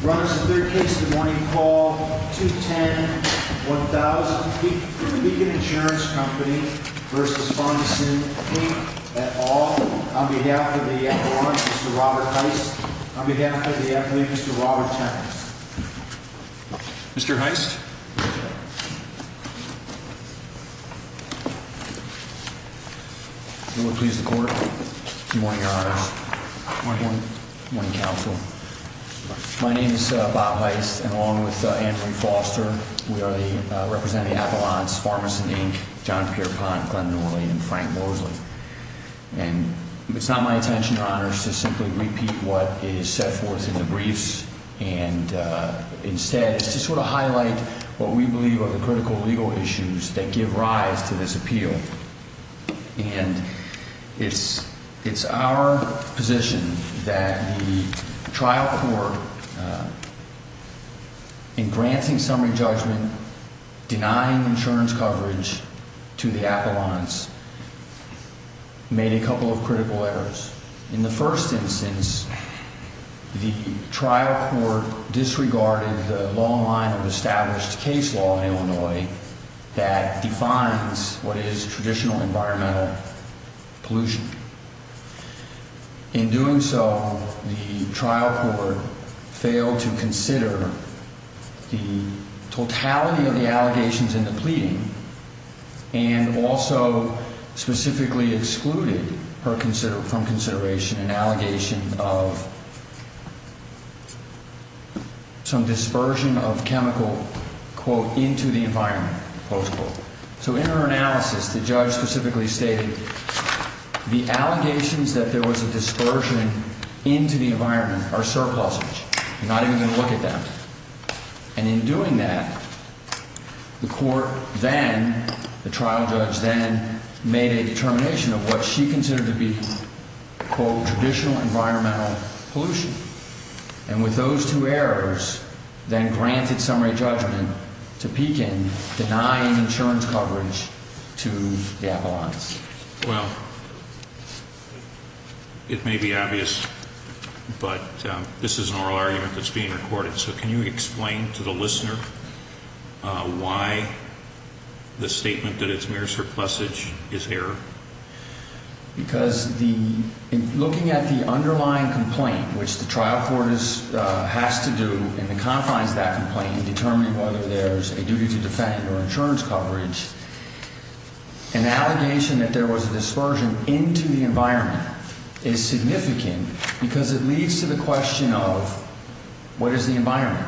Brought us a third case in the morning call 210-1000 Pekin Insurance Co. v. Pharmasyn, Inc. at all. On behalf of the F1, Mr. Robert Heist. On behalf of the F8, Mr. Robert Tennant. Mr. Heist? Will it please the court? Good morning, Your Honor. Good morning. Good morning, Counsel. My name is Bob Heist, and along with Andrew Foster, we are representing Avalon's Pharmasyn, Inc., John Pierpont, Glenn Norley, and Frank Mosley. And it's not my intention, Your Honor, to simply repeat what is set forth in the briefs, and instead it's just to sort of highlight what we believe are the critical legal issues that give rise to this appeal. And it's our position that the trial court, in granting summary judgment, denying insurance coverage to the Avalon's, made a couple of critical errors. In the first instance, the trial court disregarded the long line of established case law in Illinois that defines what is traditional environmental pollution. In doing so, the trial court failed to consider the totality of the allegations in the pleading and also specifically excluded from consideration an allegation of some dispersion of chemical, quote, into the environment, close quote. So in her analysis, the judge specifically stated the allegations that there was a dispersion into the environment are surpluses. You're not even going to look at them. And in doing that, the court then, the trial judge then, made a determination of what she considered to be, quote, traditional environmental pollution. And with those two errors, then granted summary judgment to Pekin, denying insurance coverage to the Avalon's. Well, it may be obvious, but this is an oral argument that's being recorded. So can you explain to the listener why the statement that it's mere surplusage is error? Because in looking at the underlying complaint, which the trial court has to do in the confines of that complaint in determining whether there's a duty to defend or insurance coverage, an allegation that there was a dispersion into the environment is significant because it leads to the question of what is the environment?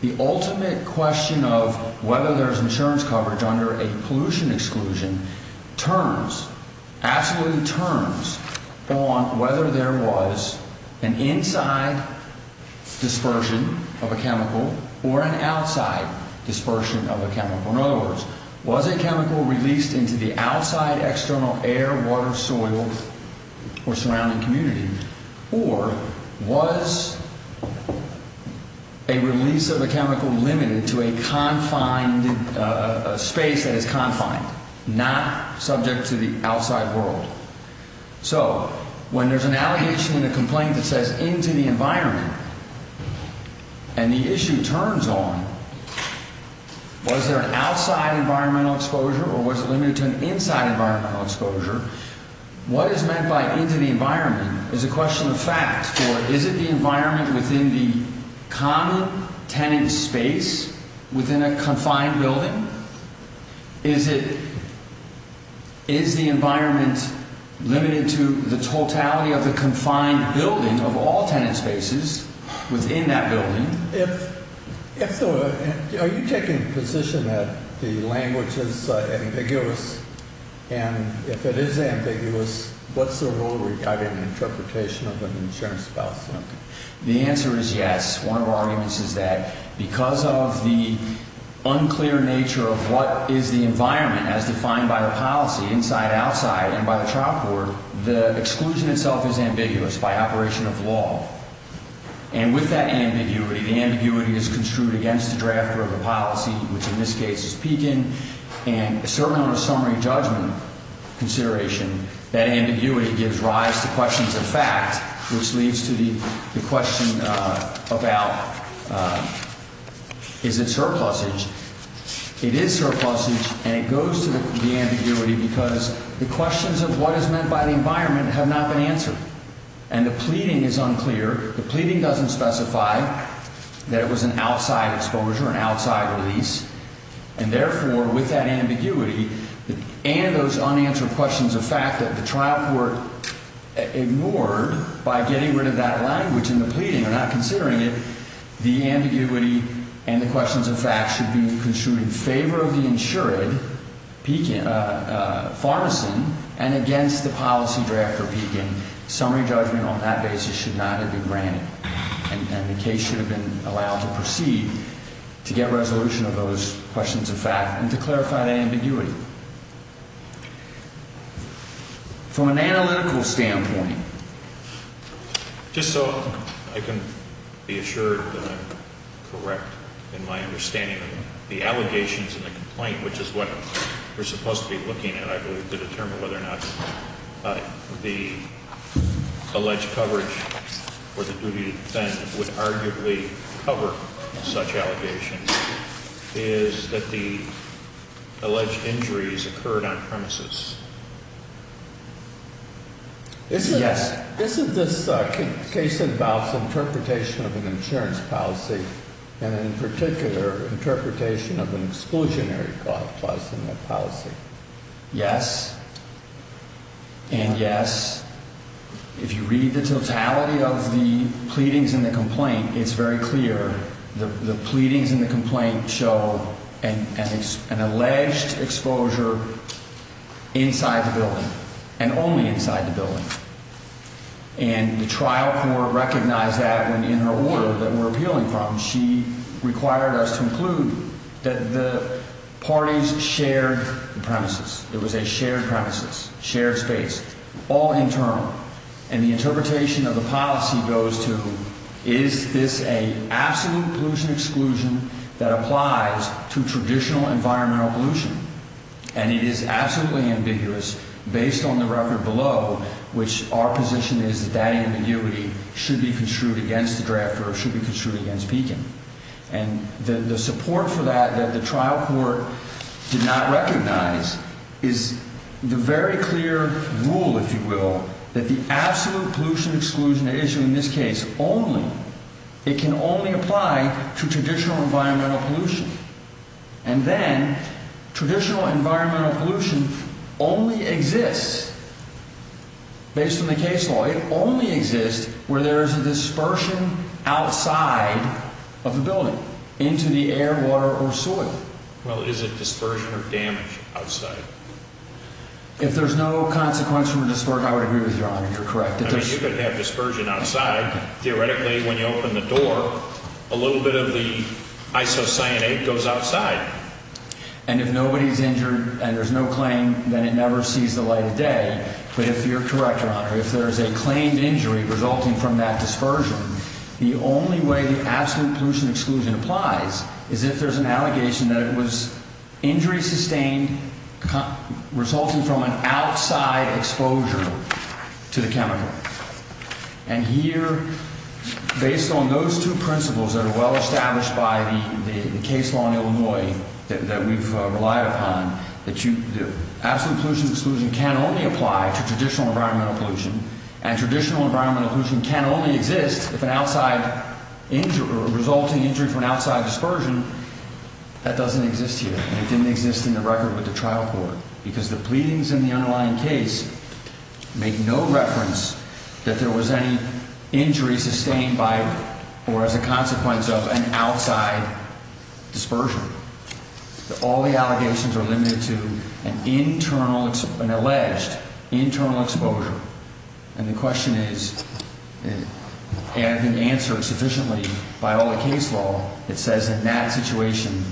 The ultimate question of whether there's insurance coverage under a pollution exclusion turns, absolutely turns, on whether there was an inside dispersion of a chemical or an outside dispersion of a chemical. In other words, was a chemical released into the outside external air, water, soil, or surrounding community, or was a release of a chemical limited to a confined space that is confined, not subject to the outside world? So when there's an allegation in a complaint that says into the environment, and the issue turns on, was there an outside environmental exposure or was it limited to an inside environmental exposure? What is meant by into the environment is a question of fact, for is it the environment within the common tenant space within a confined building? Is it, is the environment limited to the totality of the confined building of all tenant spaces within that building? If, if the, are you taking a position that the language is ambiguous, and if it is ambiguous, what's the rule regarding interpretation of an insurance policy? The answer is yes. One of our arguments is that because of the unclear nature of what is the environment as defined by the policy, inside, outside, and by the trial court, the exclusion itself is ambiguous by operation of law. And with that ambiguity, the ambiguity is construed against the drafter of the policy, which in this case is Pekin, and certainly on a summary judgment consideration, that ambiguity gives rise to questions of fact, which leads to the question about is it surplusage? It is surplusage, and it goes to the ambiguity because the questions of what is meant by the environment have not been answered. And the pleading is unclear. The pleading doesn't specify that it was an outside exposure, an outside release. And therefore, with that ambiguity and those unanswered questions of fact that the trial court ignored by getting rid of that language in the pleading or not considering it, the ambiguity and the questions of fact should be construed in favor of the insured, Pekin, Farmerson, and against the policy drafter, Pekin. Summary judgment on that basis should not have been granted, and the case should have been allowed to proceed to get resolution of those questions of fact and to clarify that ambiguity. From an analytical standpoint, just so I can be assured that I'm correct in my understanding of the allegations and the complaint, which is what we're supposed to be looking at, I believe, to determine whether or not the alleged coverage or the duty to defend would arguably cover such allegations, is that the alleged injuries occurred on premises. Yes. Isn't this case about interpretation of an insurance policy and, in particular, interpretation of an exclusionary clause in the policy? Yes and yes. If you read the totality of the pleadings and the complaint, it's very clear. The pleadings and the complaint show an alleged exposure inside the building and only inside the building, and the trial court recognized that in her order that we're appealing from. She required us to include that the parties shared the premises. It was a shared premises, shared space, all internal. And the interpretation of the policy goes to, is this an absolute pollution exclusion that applies to traditional environmental pollution? And it is absolutely ambiguous based on the record below, which our position is that that ambiguity should be construed against the drafter or should be construed against Pekin. And the support for that that the trial court did not recognize is the very clear rule, if you will, that the absolute pollution exclusion issue in this case only, it can only apply to traditional environmental pollution. And then traditional environmental pollution only exists based on the case law. It only exists where there is a dispersion outside of the building into the air, water, or soil. Well, is it dispersion or damage outside? If there's no consequence from a dispersion, I would agree with Your Honor. You're correct. I mean, you could have dispersion outside. Theoretically, when you open the door, a little bit of the isocyanate goes outside. And if nobody's injured and there's no claim, then it never sees the light of day. But if you're correct, Your Honor, if there is a claimed injury resulting from that dispersion, the only way the absolute pollution exclusion applies is if there's an allegation that it was injury sustained resulting from an outside exposure to the chemical. And here, based on those two principles that are well established by the case law in Illinois that we've relied upon, that the absolute pollution exclusion can only apply to traditional environmental pollution. And traditional environmental pollution can only exist if an outside injury or resulting injury from an outside dispersion, that doesn't exist here. And it didn't exist in the record with the trial court. Because the pleadings in the underlying case make no reference that there was any injury sustained by or as a consequence of an outside dispersion. All the allegations are limited to an internal, an alleged internal exposure. And the question is, and answered sufficiently by all the case law, it says in that situation,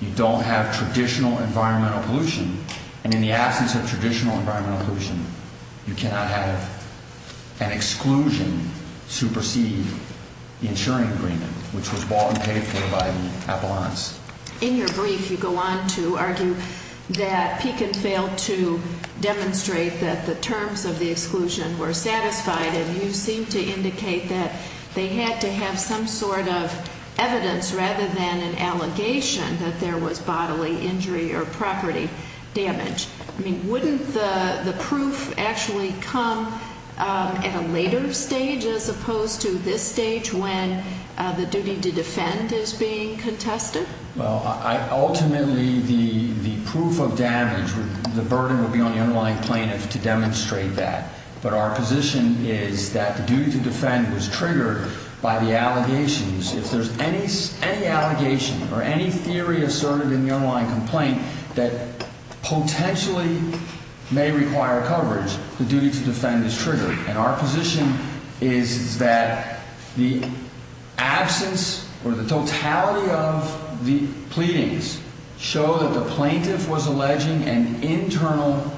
you don't have traditional environmental pollution. And in the absence of traditional environmental pollution, you cannot have an exclusion supersede the insuring agreement, which was bought and paid for by the appellants. In your brief, you go on to argue that Pekin failed to demonstrate that the terms of the exclusion were satisfied. And you seem to indicate that they had to have some sort of evidence rather than an allegation that there was bodily injury or property damage. I mean, wouldn't the proof actually come at a later stage as opposed to this stage when the duty to defend is being contested? Well, ultimately, the proof of damage, the burden would be on the underlying plaintiff to demonstrate that. But our position is that the duty to defend was triggered by the allegations. If there's any allegation or any theory asserted in the underlying complaint that potentially may require coverage, the duty to defend is triggered. And our position is that the absence or the totality of the pleadings show that the plaintiff was alleging an internal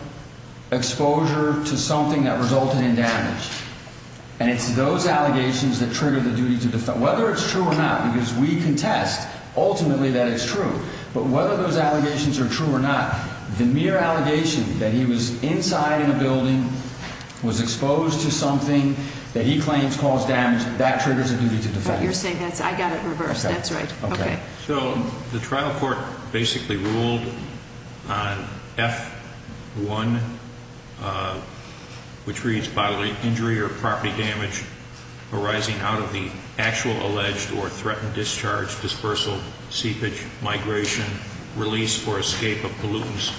exposure to something that resulted in damage. And it's those allegations that trigger the duty to defend, whether it's true or not, because we contest ultimately that it's true. But whether those allegations are true or not, the mere allegation that he was inside in a building, was exposed to something that he claims caused damage, that triggers a duty to defend. You're saying that I got it reversed. That's right. Okay. So the trial court basically ruled on F1, which reads bodily injury or property damage arising out of the actual alleged or threatened discharge, dispersal, seepage, migration, release or escape of pollutants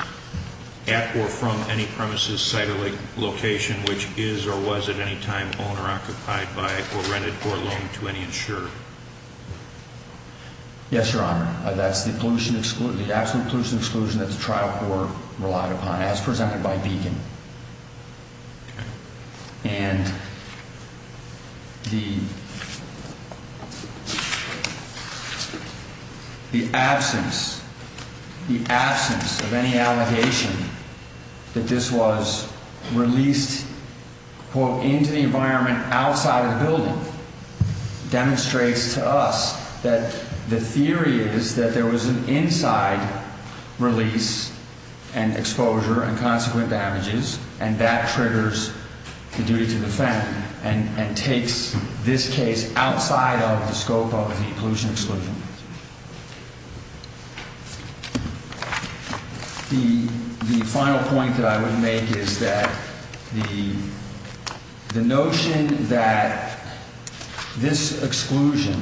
at or from any premises, site or location, which is or was at any time owned or occupied by or rented or loaned to any insurer. Yes, Your Honor. That's the pollution, the absolute pollution exclusion that the trial court relied upon as presented by Beacon. And the absence, the absence of any allegation that this was released into the environment outside of the building demonstrates to us that the theory is that there was an inside release and exposure and consequent damages. And that triggers the duty to defend and takes this case outside of the scope of the pollution exclusion. The final point that I would make is that the notion that this exclusion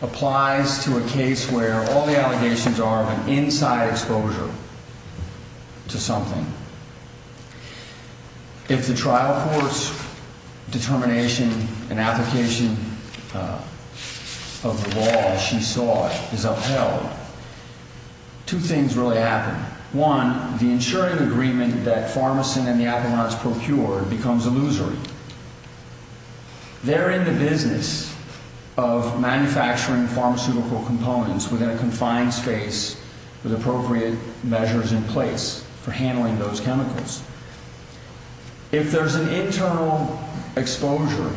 applies to a case where all the allegations are of an inside exposure to something. If the trial court's determination and application of the law, as she saw it, is upheld, two things really happen. One, the insuring agreement that Pharmacin and the Appalachians procured becomes illusory. They're in the business of manufacturing pharmaceutical components within a confined space with appropriate measures in place for handling those chemicals. If there's an internal exposure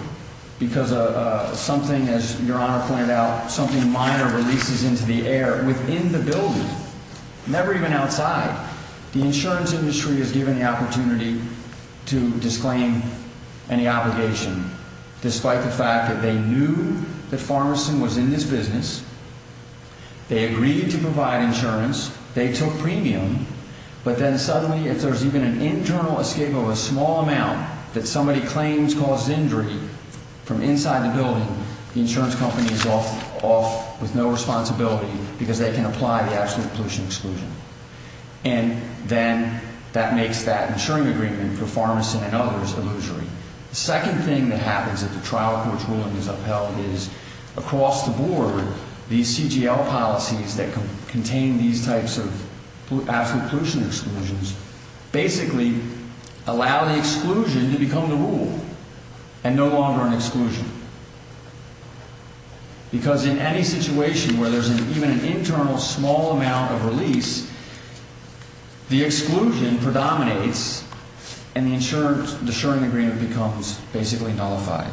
because of something, as Your Honor pointed out, something minor releases into the air within the building, never even outside, the insurance industry is given the opportunity to disclaim any obligation despite the fact that they knew that Pharmacin was in this business. They agreed to provide insurance, they took premium, but then suddenly if there's even an internal escape of a small amount that somebody claims causes injury from inside the building, the insurance company is off with no responsibility because they can apply the absolute pollution exclusion. And then that makes that insuring agreement for Pharmacin and others illusory. The second thing that happens if the trial court's ruling is upheld is, across the board, these CGL policies that contain these types of absolute pollution exclusions basically allow the exclusion to become the rule and no longer an exclusion. Because in any situation where there's even an internal small amount of release, the exclusion predominates and the insuring agreement becomes basically nullified.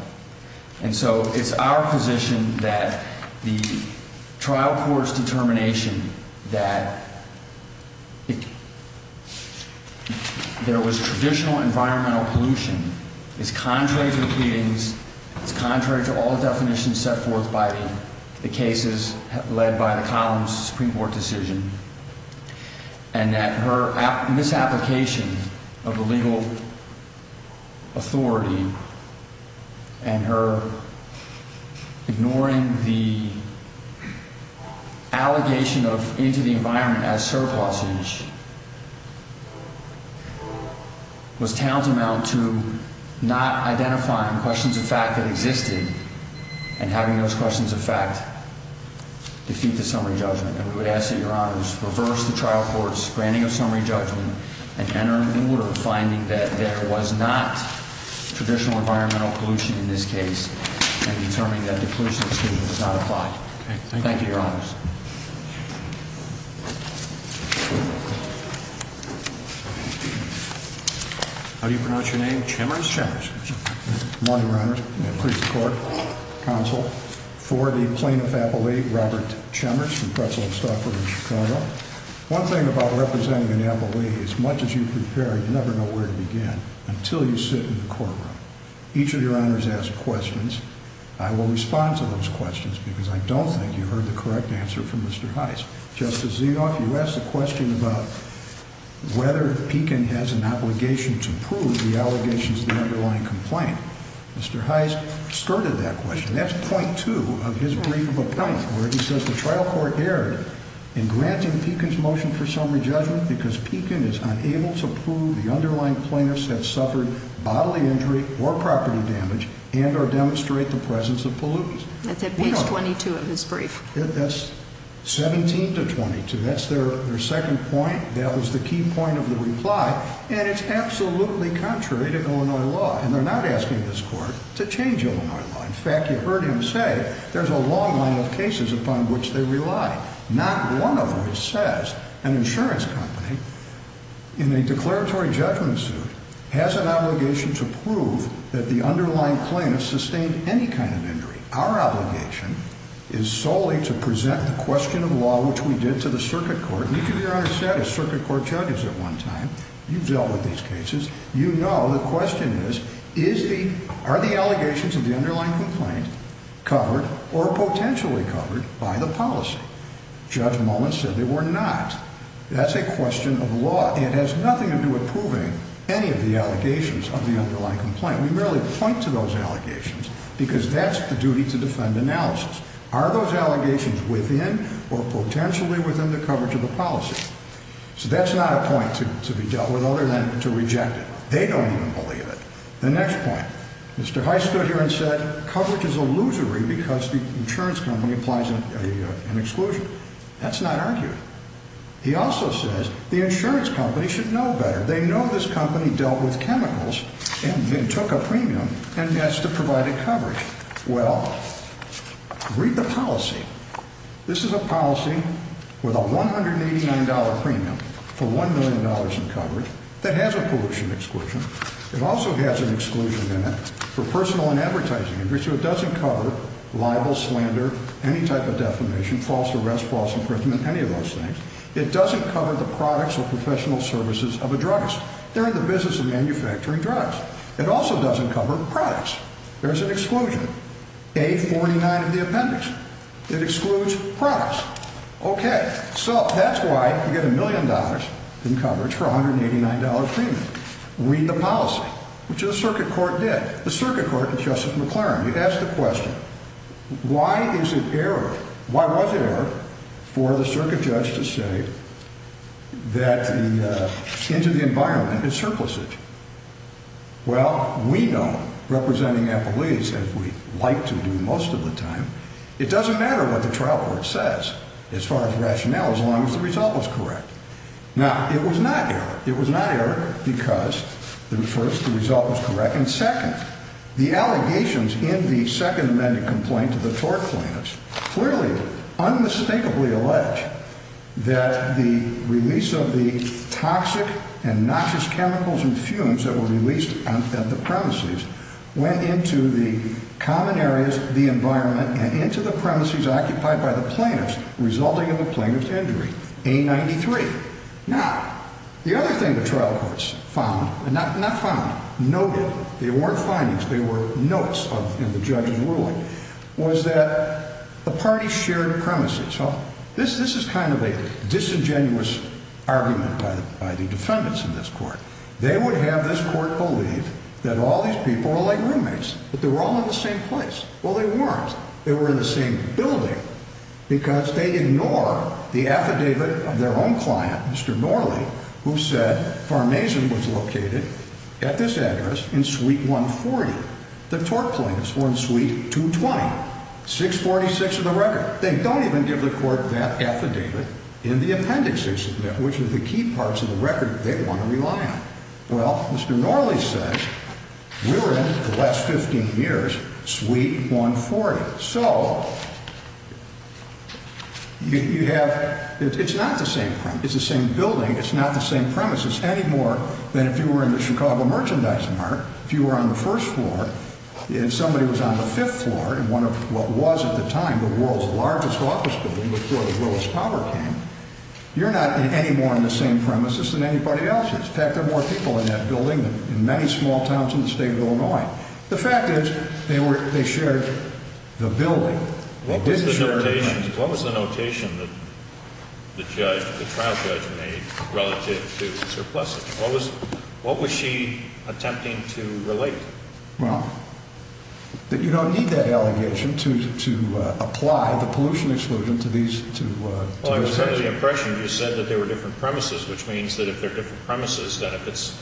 And so it's our position that the trial court's determination that there was traditional environmental pollution is contrary to the pleadings, it's contrary to all definitions set forth by the cases led by the Columns Supreme Court decision. And that her misapplication of the legal authority and her ignoring the allegation of into the environment as surf hostage was tantamount to not identifying questions of fact that existed and having those questions of fact defeat the summary judgment. And we would ask that your honors reverse the trial court's granting of summary judgment and enter into order of finding that there was not traditional environmental pollution in this case and determining that the pollution exclusion does not apply. Thank you, your honors. How do you pronounce your name? Chimmers? Morning, your honors. Please support counsel for the plaintiff. Appalachia. Robert Chambers from Pretzel and Stockwood in Chicago. One thing about representing an appalachia as much as you prepare, you never know where to begin until you sit in the courtroom. Each of your honors has questions. I will respond to those questions because I don't think you heard the correct answer from Mr. Heist. Justice Zinoff, you asked the question about whether Pekin has an obligation to prove the allegations of the underlying complaint. Mr. Heist skirted that question. That's point two of his brief of appellant where he says the trial court erred in granting Pekin's motion for summary judgment because Pekin is unable to prove the underlying plaintiffs have suffered bodily injury or property damage and or demonstrate the presence of pollutants. That's at page 22 of his brief. That's 17 to 22. That's their second point. That was the key point of the reply. And it's absolutely contrary to Illinois law. And they're not asking this court to change Illinois law. In fact, you heard him say there's a long line of cases upon which they rely. Not one of them says an insurance company in a declaratory judgment suit has an obligation to prove that the underlying plaintiffs sustained any kind of injury. Our obligation is solely to present the question of law, which we did to the circuit court. Each of your honors said as circuit court judges at one time, you've dealt with these cases. You know the question is, are the allegations of the underlying complaint covered or potentially covered by the policy? Judge Mullen said they were not. That's a question of law. It has nothing to do with proving any of the allegations of the underlying complaint. We merely point to those allegations because that's the duty to defend analysis. Are those allegations within or potentially within the coverage of the policy? So that's not a point to be dealt with other than to reject it. They don't even believe it. The next point, Mr. Heist stood here and said coverage is illusory because the insurance company applies an exclusion. That's not argued. He also says the insurance company should know better. They know this company dealt with chemicals and took a premium and that's to provide a coverage. Well, read the policy. This is a policy with a $189 premium for $1 million in coverage that has a pollution exclusion. It also has an exclusion in it for personal and advertising. It doesn't cover libel, slander, any type of defamation, false arrest, false imprisonment, any of those things. It doesn't cover the products or professional services of a druggist. They're in the business of manufacturing drugs. It also doesn't cover products. There's an exclusion, A-49 of the appendix. It excludes products. Okay, so that's why you get a million dollars in coverage for a $189 premium. Read the policy, which the circuit court did. The circuit court, Justice McLaren, he asked the question, why is it error? Why was it error for the circuit judge to say that the intent of the environment is surplusage? Well, we know, representing employees, as we like to do most of the time, it doesn't matter what the trial court says as far as rationale as long as the result was correct. Now, it was not error. It was not error because, first, the result was correct, and second, the allegations in the second amended complaint to the tort plaintiffs clearly, unmistakably allege, that the release of the toxic and noxious chemicals and fumes that were released at the premises went into the common areas of the environment and into the premises occupied by the plaintiffs, resulting in the plaintiff's injury, A-93. Now, the other thing the trial courts found, not found, noted, they weren't findings, they were notes in the judge's ruling, was that the parties shared premises. So, this is kind of a disingenuous argument by the defendants in this court. They would have this court believe that all these people were like roommates, that they were all in the same place. Well, they weren't. They were in the same building because they ignore the affidavit of their own client, Mr. Norley, who said farm mason was located at this address in suite 140. The tort plaintiffs were in suite 220, 646 of the record. They don't even give the court that affidavit in the appendices, which are the key parts of the record that they want to rely on. Well, Mr. Norley says we're in, for the last 15 years, suite 140. So, you have, it's not the same premise. It's the same building. It's not the same premises any more than if you were in the Chicago Merchandise Mart. If you were on the first floor and somebody was on the fifth floor in what was at the time the world's largest office building before the Willis Power came, you're not any more in the same premises than anybody else is. In fact, there are more people in that building than in many small towns in the state of Illinois. The fact is they shared the building. What was the notation that the trial judge made relative to surpluses? What was she attempting to relate? Well, you don't need that allegation to apply the pollution exclusion to these cases. Well, I was under the impression you said that they were different premises, which means that if they're different premises, that if it's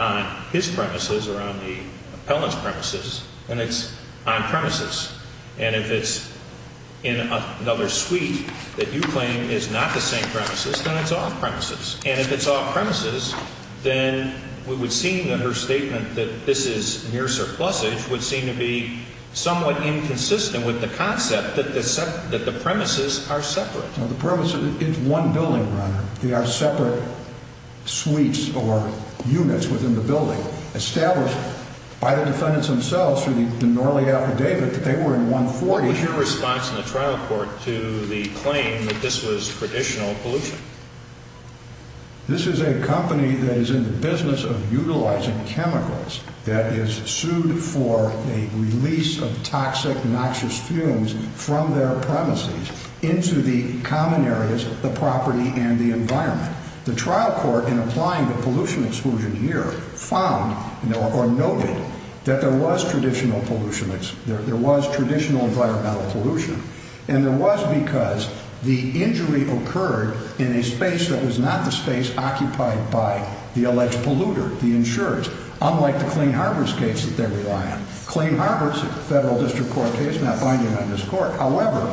on his premises or on the appellant's premises, then it's on premises. And if it's in another suite that you claim is not the same premises, then it's off premises. And if it's off premises, then we would see in her statement that this is near surpluses would seem to be somewhat inconsistent with the concept that the premises are separate. No, the premises, it's one building, Your Honor. They are separate suites or units within the building established by the defendants themselves through the Norley affidavit that they were in 140. What was your response in the trial court to the claim that this was traditional pollution? This is a company that is in the business of utilizing chemicals that is sued for a release of toxic, noxious fumes from their premises into the common areas of the property and the environment. The trial court, in applying the pollution exclusion here, found or noted that there was traditional pollution. There was traditional environmental pollution, and there was because the injury occurred in a space that was not the space occupied by the alleged polluter, the insurers, unlike the Clean Harbors case that they rely on. Clean Harbors is a federal district court case, not binding on this court. However,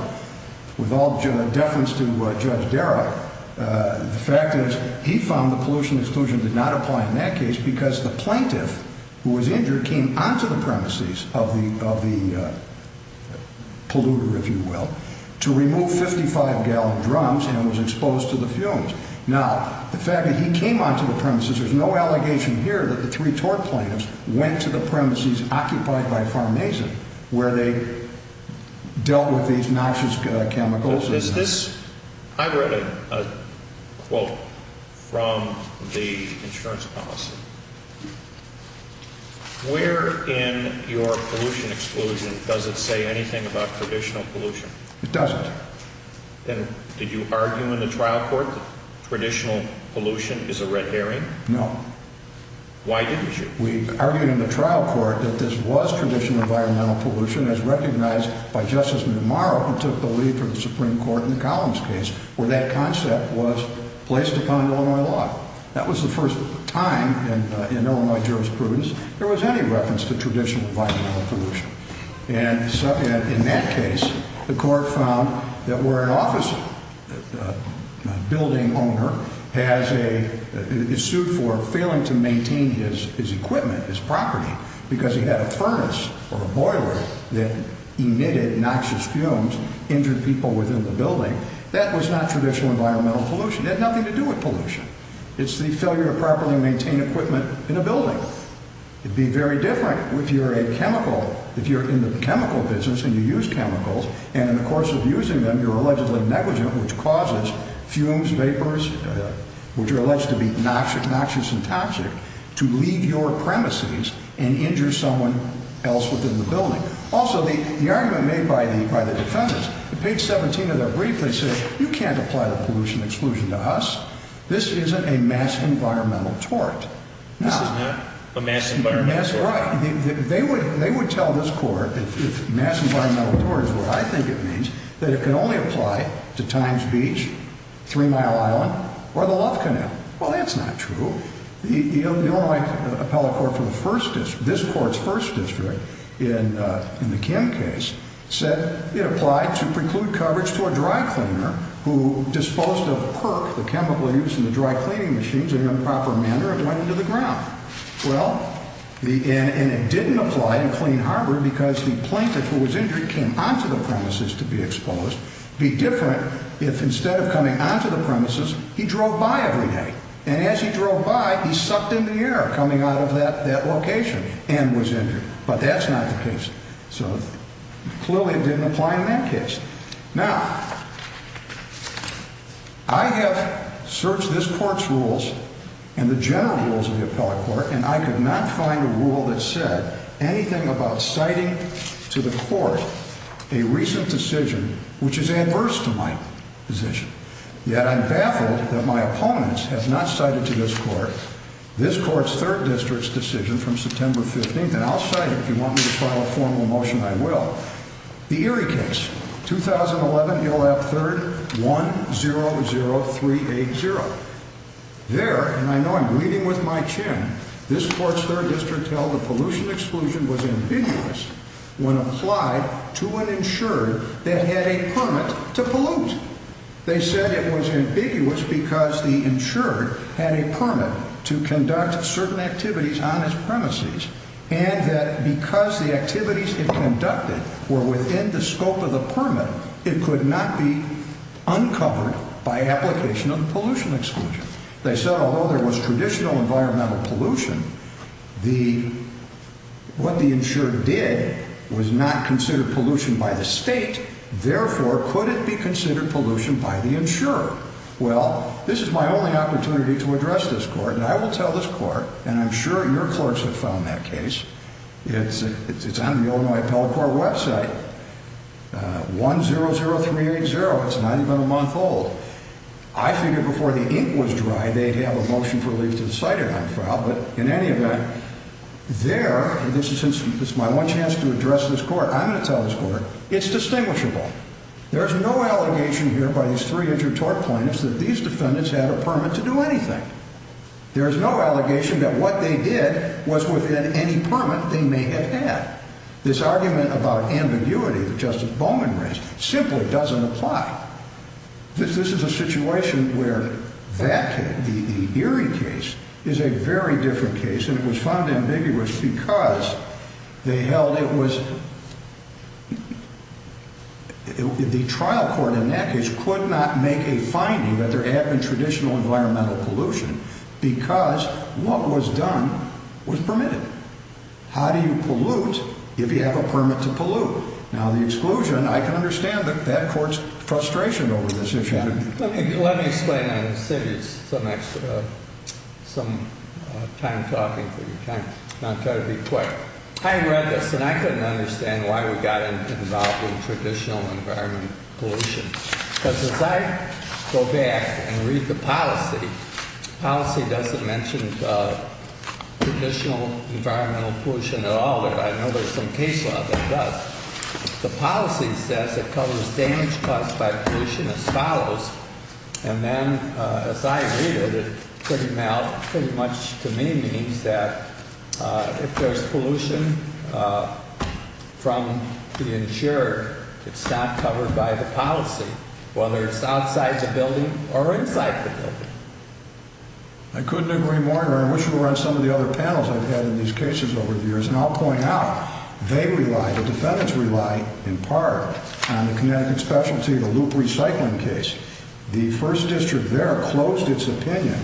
with all deference to Judge Darragh, the fact is he found the pollution exclusion did not apply in that case because the plaintiff who was injured came onto the premises of the polluter, if you will, to remove 55-gallon drums and was exposed to the fumes. Now, the fact that he came onto the premises, there's no allegation here that the three tort plaintiffs went to the premises occupied by Farmazin where they dealt with these noxious chemicals. I read a quote from the insurance policy. Where in your pollution exclusion does it say anything about traditional pollution? It doesn't. And did you argue in the trial court that traditional pollution is a red herring? No. Why didn't you? We argued in the trial court that this was traditional environmental pollution as recognized by Justice Monroe who took the lead from the Supreme Court in the Collins case where that concept was placed upon Illinois law. That was the first time in Illinois jurisprudence there was any reference to traditional environmental pollution. And in that case, the court found that where an office building owner has a is sued for failing to maintain his equipment, his property, because he had a furnace or a boiler that emitted noxious fumes, injured people within the building, that was not traditional environmental pollution. It had nothing to do with pollution. It's the failure to properly maintain equipment in a building. It would be very different if you're a chemical, if you're in the chemical business and you use chemicals and in the course of using them you're allegedly negligent which causes fumes, vapors, which are alleged to be noxious and toxic, to leave your premises and injure someone else within the building. Also, the argument made by the defendants, page 17 of their brief, they said, you can't apply the pollution exclusion to us. This isn't a mass environmental tort. This is not a mass environmental tort. Right. They would tell this court, if mass environmental tort is what I think it means, that it can only apply to Times Beach, Three Mile Island, or the Love Canal. Well, that's not true. The Illinois appellate court for the first district, this court's first district, in the Kim case, said it applied to preclude coverage to a dry cleaner who disposed of PERC, the chemical used in the dry cleaning machines, in an improper manner and went into the ground. Well, and it didn't apply in Clean Harbor because the plaintiff who was injured came onto the premises to be exposed. It would be different if instead of coming onto the premises, he drove by every day. And as he drove by, he sucked in the air coming out of that location and was injured. But that's not the case. So clearly it didn't apply in that case. Now, I have searched this court's rules and the general rules of the appellate court, and I could not find a rule that said anything about citing to the court a recent decision which is adverse to my position. Yet I'm baffled that my opponents have not cited to this court this court's third district's decision from September 15th, and I'll cite it if you want me to file a formal motion, I will. The Erie case, 2011, Ill. App. 3rd, 100380. There, and I know I'm reading with my chin, this court's third district held the pollution exclusion was ambiguous when applied to an insured that had a permit to pollute. They said it was ambiguous because the insured had a permit to conduct certain activities on his premises and that because the activities it conducted were within the scope of the permit, it could not be uncovered by application of the pollution exclusion. They said although there was traditional environmental pollution, what the insured did was not considered pollution by the state, therefore, could it be considered pollution by the insurer? Well, this is my only opportunity to address this court, and I will tell this court, and I'm sure your clerks have found that case. It's on the Illinois Appellate Court website, 100380. It's not even a month old. I figured before the ink was dry, they'd have a motion for leave to the site, but in any event, there, this is my one chance to address this court. I'm going to tell this court it's distinguishable. There's no allegation here by these three injured tort plaintiffs that these defendants had a permit to do anything. There's no allegation that what they did was within any permit they may have had. This argument about ambiguity that Justice Bowman raised simply doesn't apply. This is a situation where that case, the Erie case, is a very different case, and it was found ambiguous because they held it was— the trial court in that case could not make a finding that there had been traditional environmental pollution because what was done was permitted. How do you pollute if you have a permit to pollute? Now, the exclusion, I can understand that court's frustration over this issue. Let me explain on the city some time talking for you. I'll try to be quick. I read this, and I couldn't understand why we got involved with traditional environmental pollution, because as I go back and read the policy, the policy doesn't mention traditional environmental pollution at all. I know there's some case law that does. The policy says it covers damage caused by pollution as follows, and then as I read it, it pretty much to me means that if there's pollution from the insurer, it's not covered by the policy, whether it's outside the building or inside the building. I couldn't agree more, and I wish we were on some of the other panels I've had in these cases over the years, and I'll point out they rely, the defendants rely in part on the Connecticut specialty, the loop recycling case. The first district there closed its opinion.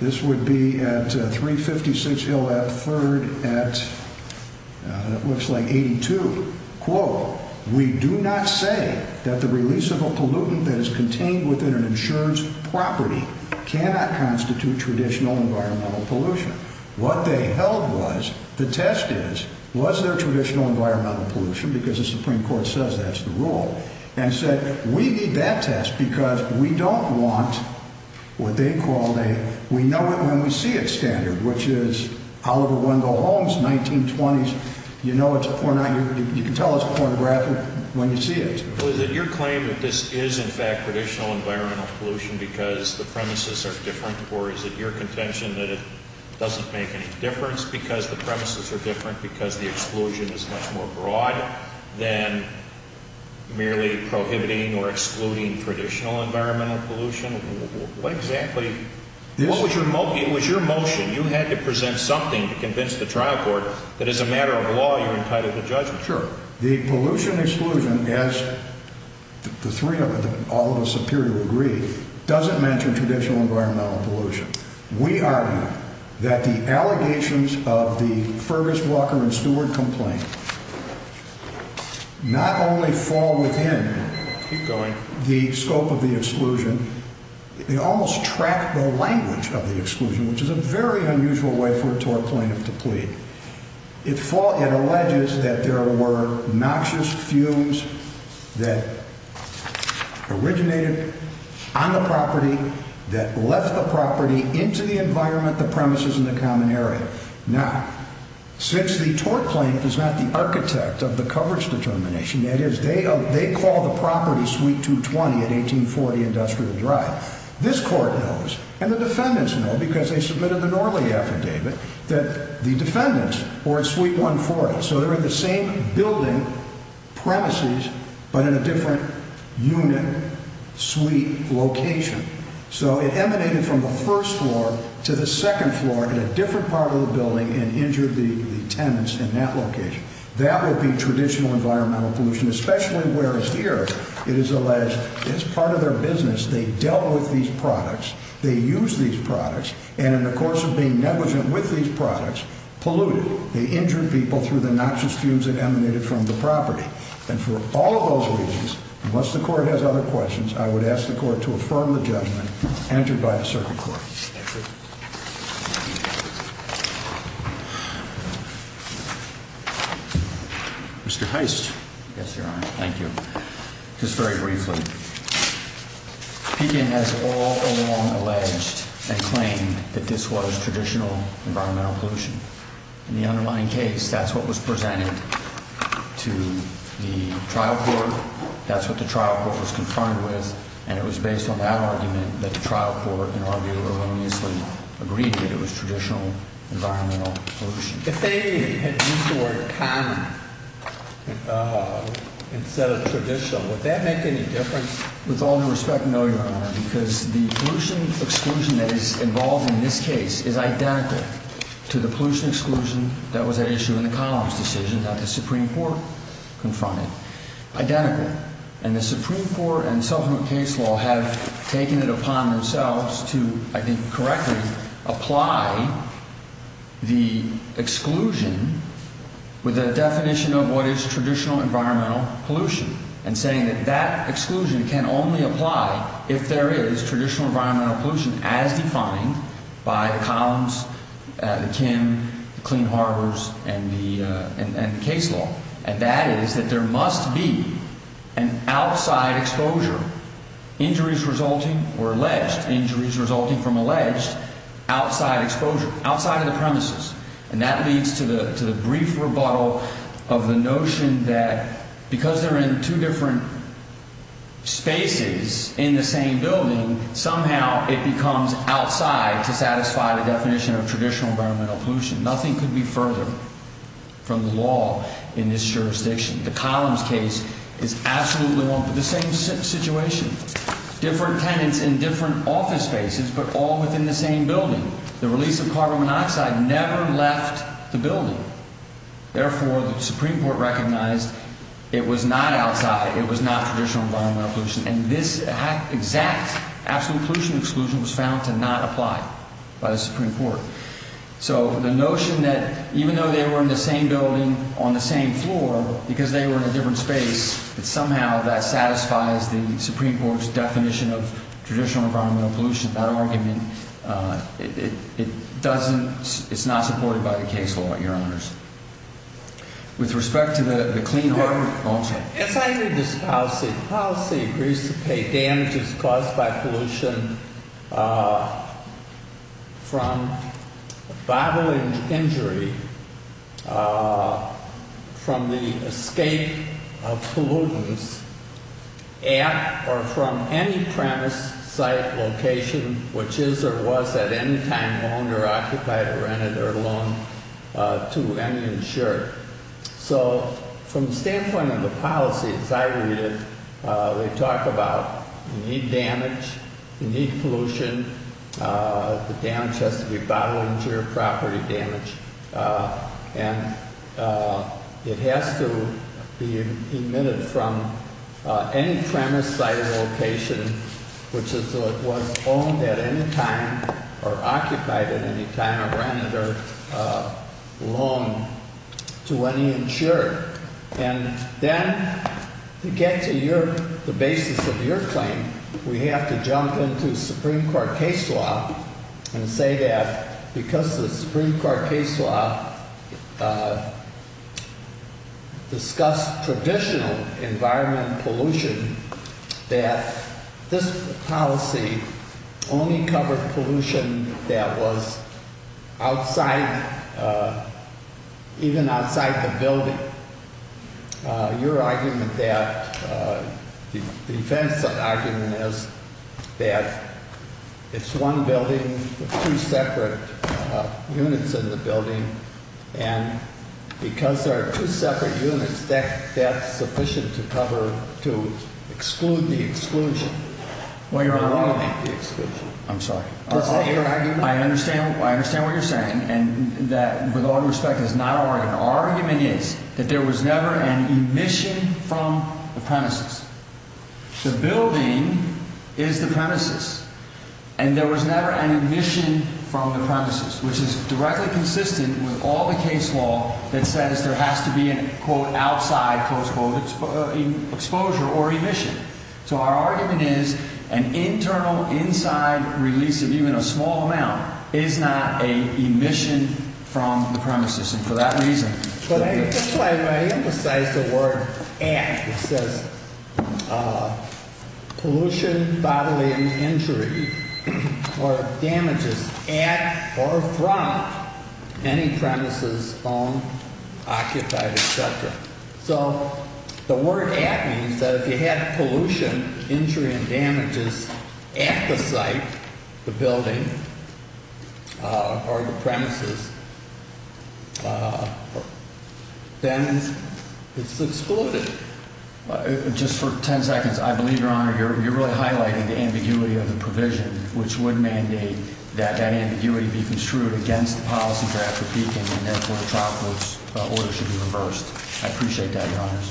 This would be at 356 Hill Ave. 3rd at, it looks like 82. Quote, we do not say that the release of a pollutant that is contained within an insurance property cannot constitute traditional environmental pollution. What they held was, the test is, was there traditional environmental pollution, because the Supreme Court says that's the rule, and said we need that test because we don't want what they call a, we know it when we see it standard, which is Oliver Wendell Holmes, 1920s, you know it's a pornographic, you can tell it's pornographic when you see it. Was it your claim that this is in fact traditional environmental pollution because the premises are different, or is it your contention that it doesn't make any difference because the premises are different because the exclusion is much more broad than merely prohibiting or excluding traditional environmental pollution? What exactly, what was your motion? You had to present something to convince the trial court that as a matter of law you're entitled to judgment. Sure. The pollution exclusion, as the three of us, all of us appear to agree, doesn't mention traditional environmental pollution. We argue that the allegations of the Fergus, Walker, and Stewart complaint not only fall within the scope of the exclusion, they almost track the language of the exclusion, which is a very unusual way for a tort plaintiff to plead. It alleges that there were noxious fumes that originated on the property that left the property into the environment, the premises, and the common area. Now, since the tort plaintiff is not the architect of the coverage determination, that is, they call the property suite 220 at 1840 Industrial Drive. This court knows, and the defendants know because they submitted the Norley affidavit, that the defendants were at suite 140. So they're in the same building, premises, but in a different unit, suite, location. So it emanated from the first floor to the second floor in a different part of the building and injured the tenants in that location. That would be traditional environmental pollution, especially whereas here it is alleged as part of their business they dealt with these products, they used these products, and in the course of being negligent with these products, polluted. They injured people through the noxious fumes that emanated from the property. And for all of those reasons, unless the court has other questions, I would ask the court to affirm the judgment entered by the circuit court. Mr. Heist. Yes, Your Honor. Thank you. Just very briefly, Pekin has all along alleged and claimed that this was traditional environmental pollution. In the underlying case, that's what was presented to the trial court. That's what the trial court was confronted with, and it was based on that argument that the trial court, in our view, erroneously agreed that it was traditional environmental pollution. If they had used the word common instead of traditional, would that make any difference? With all due respect, no, Your Honor, because the pollution exclusion that is involved in this case is identical to the pollution exclusion that was at issue in the Collins decision that the Supreme Court confronted. Identical. And the Supreme Court and self-imposed case law have taken it upon themselves to, I think correctly, apply the exclusion with a definition of what is traditional environmental pollution and saying that that exclusion can only apply if there is traditional environmental pollution as defined by the Collins, the Kim, the Clean Harbors, and the case law. And that is that there must be an outside exposure. Injuries resulting were alleged. Injuries resulting from alleged outside exposure, outside of the premises. And that leads to the brief rebuttal of the notion that because they're in two different spaces in the same building, somehow it becomes outside to satisfy the definition of traditional environmental pollution. Nothing could be further from the law in this jurisdiction. The Collins case is absolutely one for the same situation. Different tenants in different office spaces, but all within the same building. The release of carbon monoxide never left the building. Therefore, the Supreme Court recognized it was not outside. It was not traditional environmental pollution. And this exact absolute pollution exclusion was found to not apply by the Supreme Court. So the notion that even though they were in the same building on the same floor, because they were in a different space, that somehow that satisfies the Supreme Court's definition of traditional environmental pollution, that argument, it doesn't, it's not supported by the case law, Your Honors. With respect to the clean water, also. Yes, I agree with this policy. The policy agrees to pay damages caused by pollution from bodily injury, from the escape of pollutants at or from any premise, site, location, which is or was at any time owned or occupied or rented or loaned to any insured. So, from the standpoint of the policy, as I read it, they talk about you need damage, you need pollution, the damage has to be bodily injury, property damage, and it has to be emitted from any premise, site, location, which is or was owned at any time or occupied at any time or rented or loaned to any insured. And then to get to your, the basis of your claim, we have to jump into Supreme Court case law and say that, because the Supreme Court case law discussed traditional environmental pollution, that this policy only covered pollution that was outside, even outside the building. Your argument that, the defense of the argument is that it's one building, two separate units in the building, and because there are two separate units, that's sufficient to cover, to exclude the exclusion. Well, Your Honor. I don't want to make the exclusion. I'm sorry. I understand what you're saying, and that, with all due respect, is not our argument. Our argument is that there was never an emission from the premises. The building is the premises, and there was never an emission from the premises, which is directly consistent with all the case law that says there has to be an, quote, outside, close quote, exposure or emission. So our argument is an internal, inside release of even a small amount is not an emission from the premises, and for that reason. But I emphasize the word at. It says pollution, bodily injury or damages at or from any premises, own, occupied, etc. So the word at means that if you had pollution, injury and damages at the site, the building or the premises, then it's excluded. Just for 10 seconds. I believe, Your Honor, you're really highlighting the ambiguity of the provision, which would mandate that that ambiguity be construed against the policy draft for peaking, and therefore the trial court's order should be reversed. I appreciate that, Your Honors.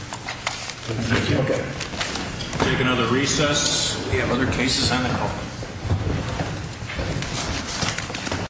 Thank you. Okay. We'll take another recess. We have other cases on the house.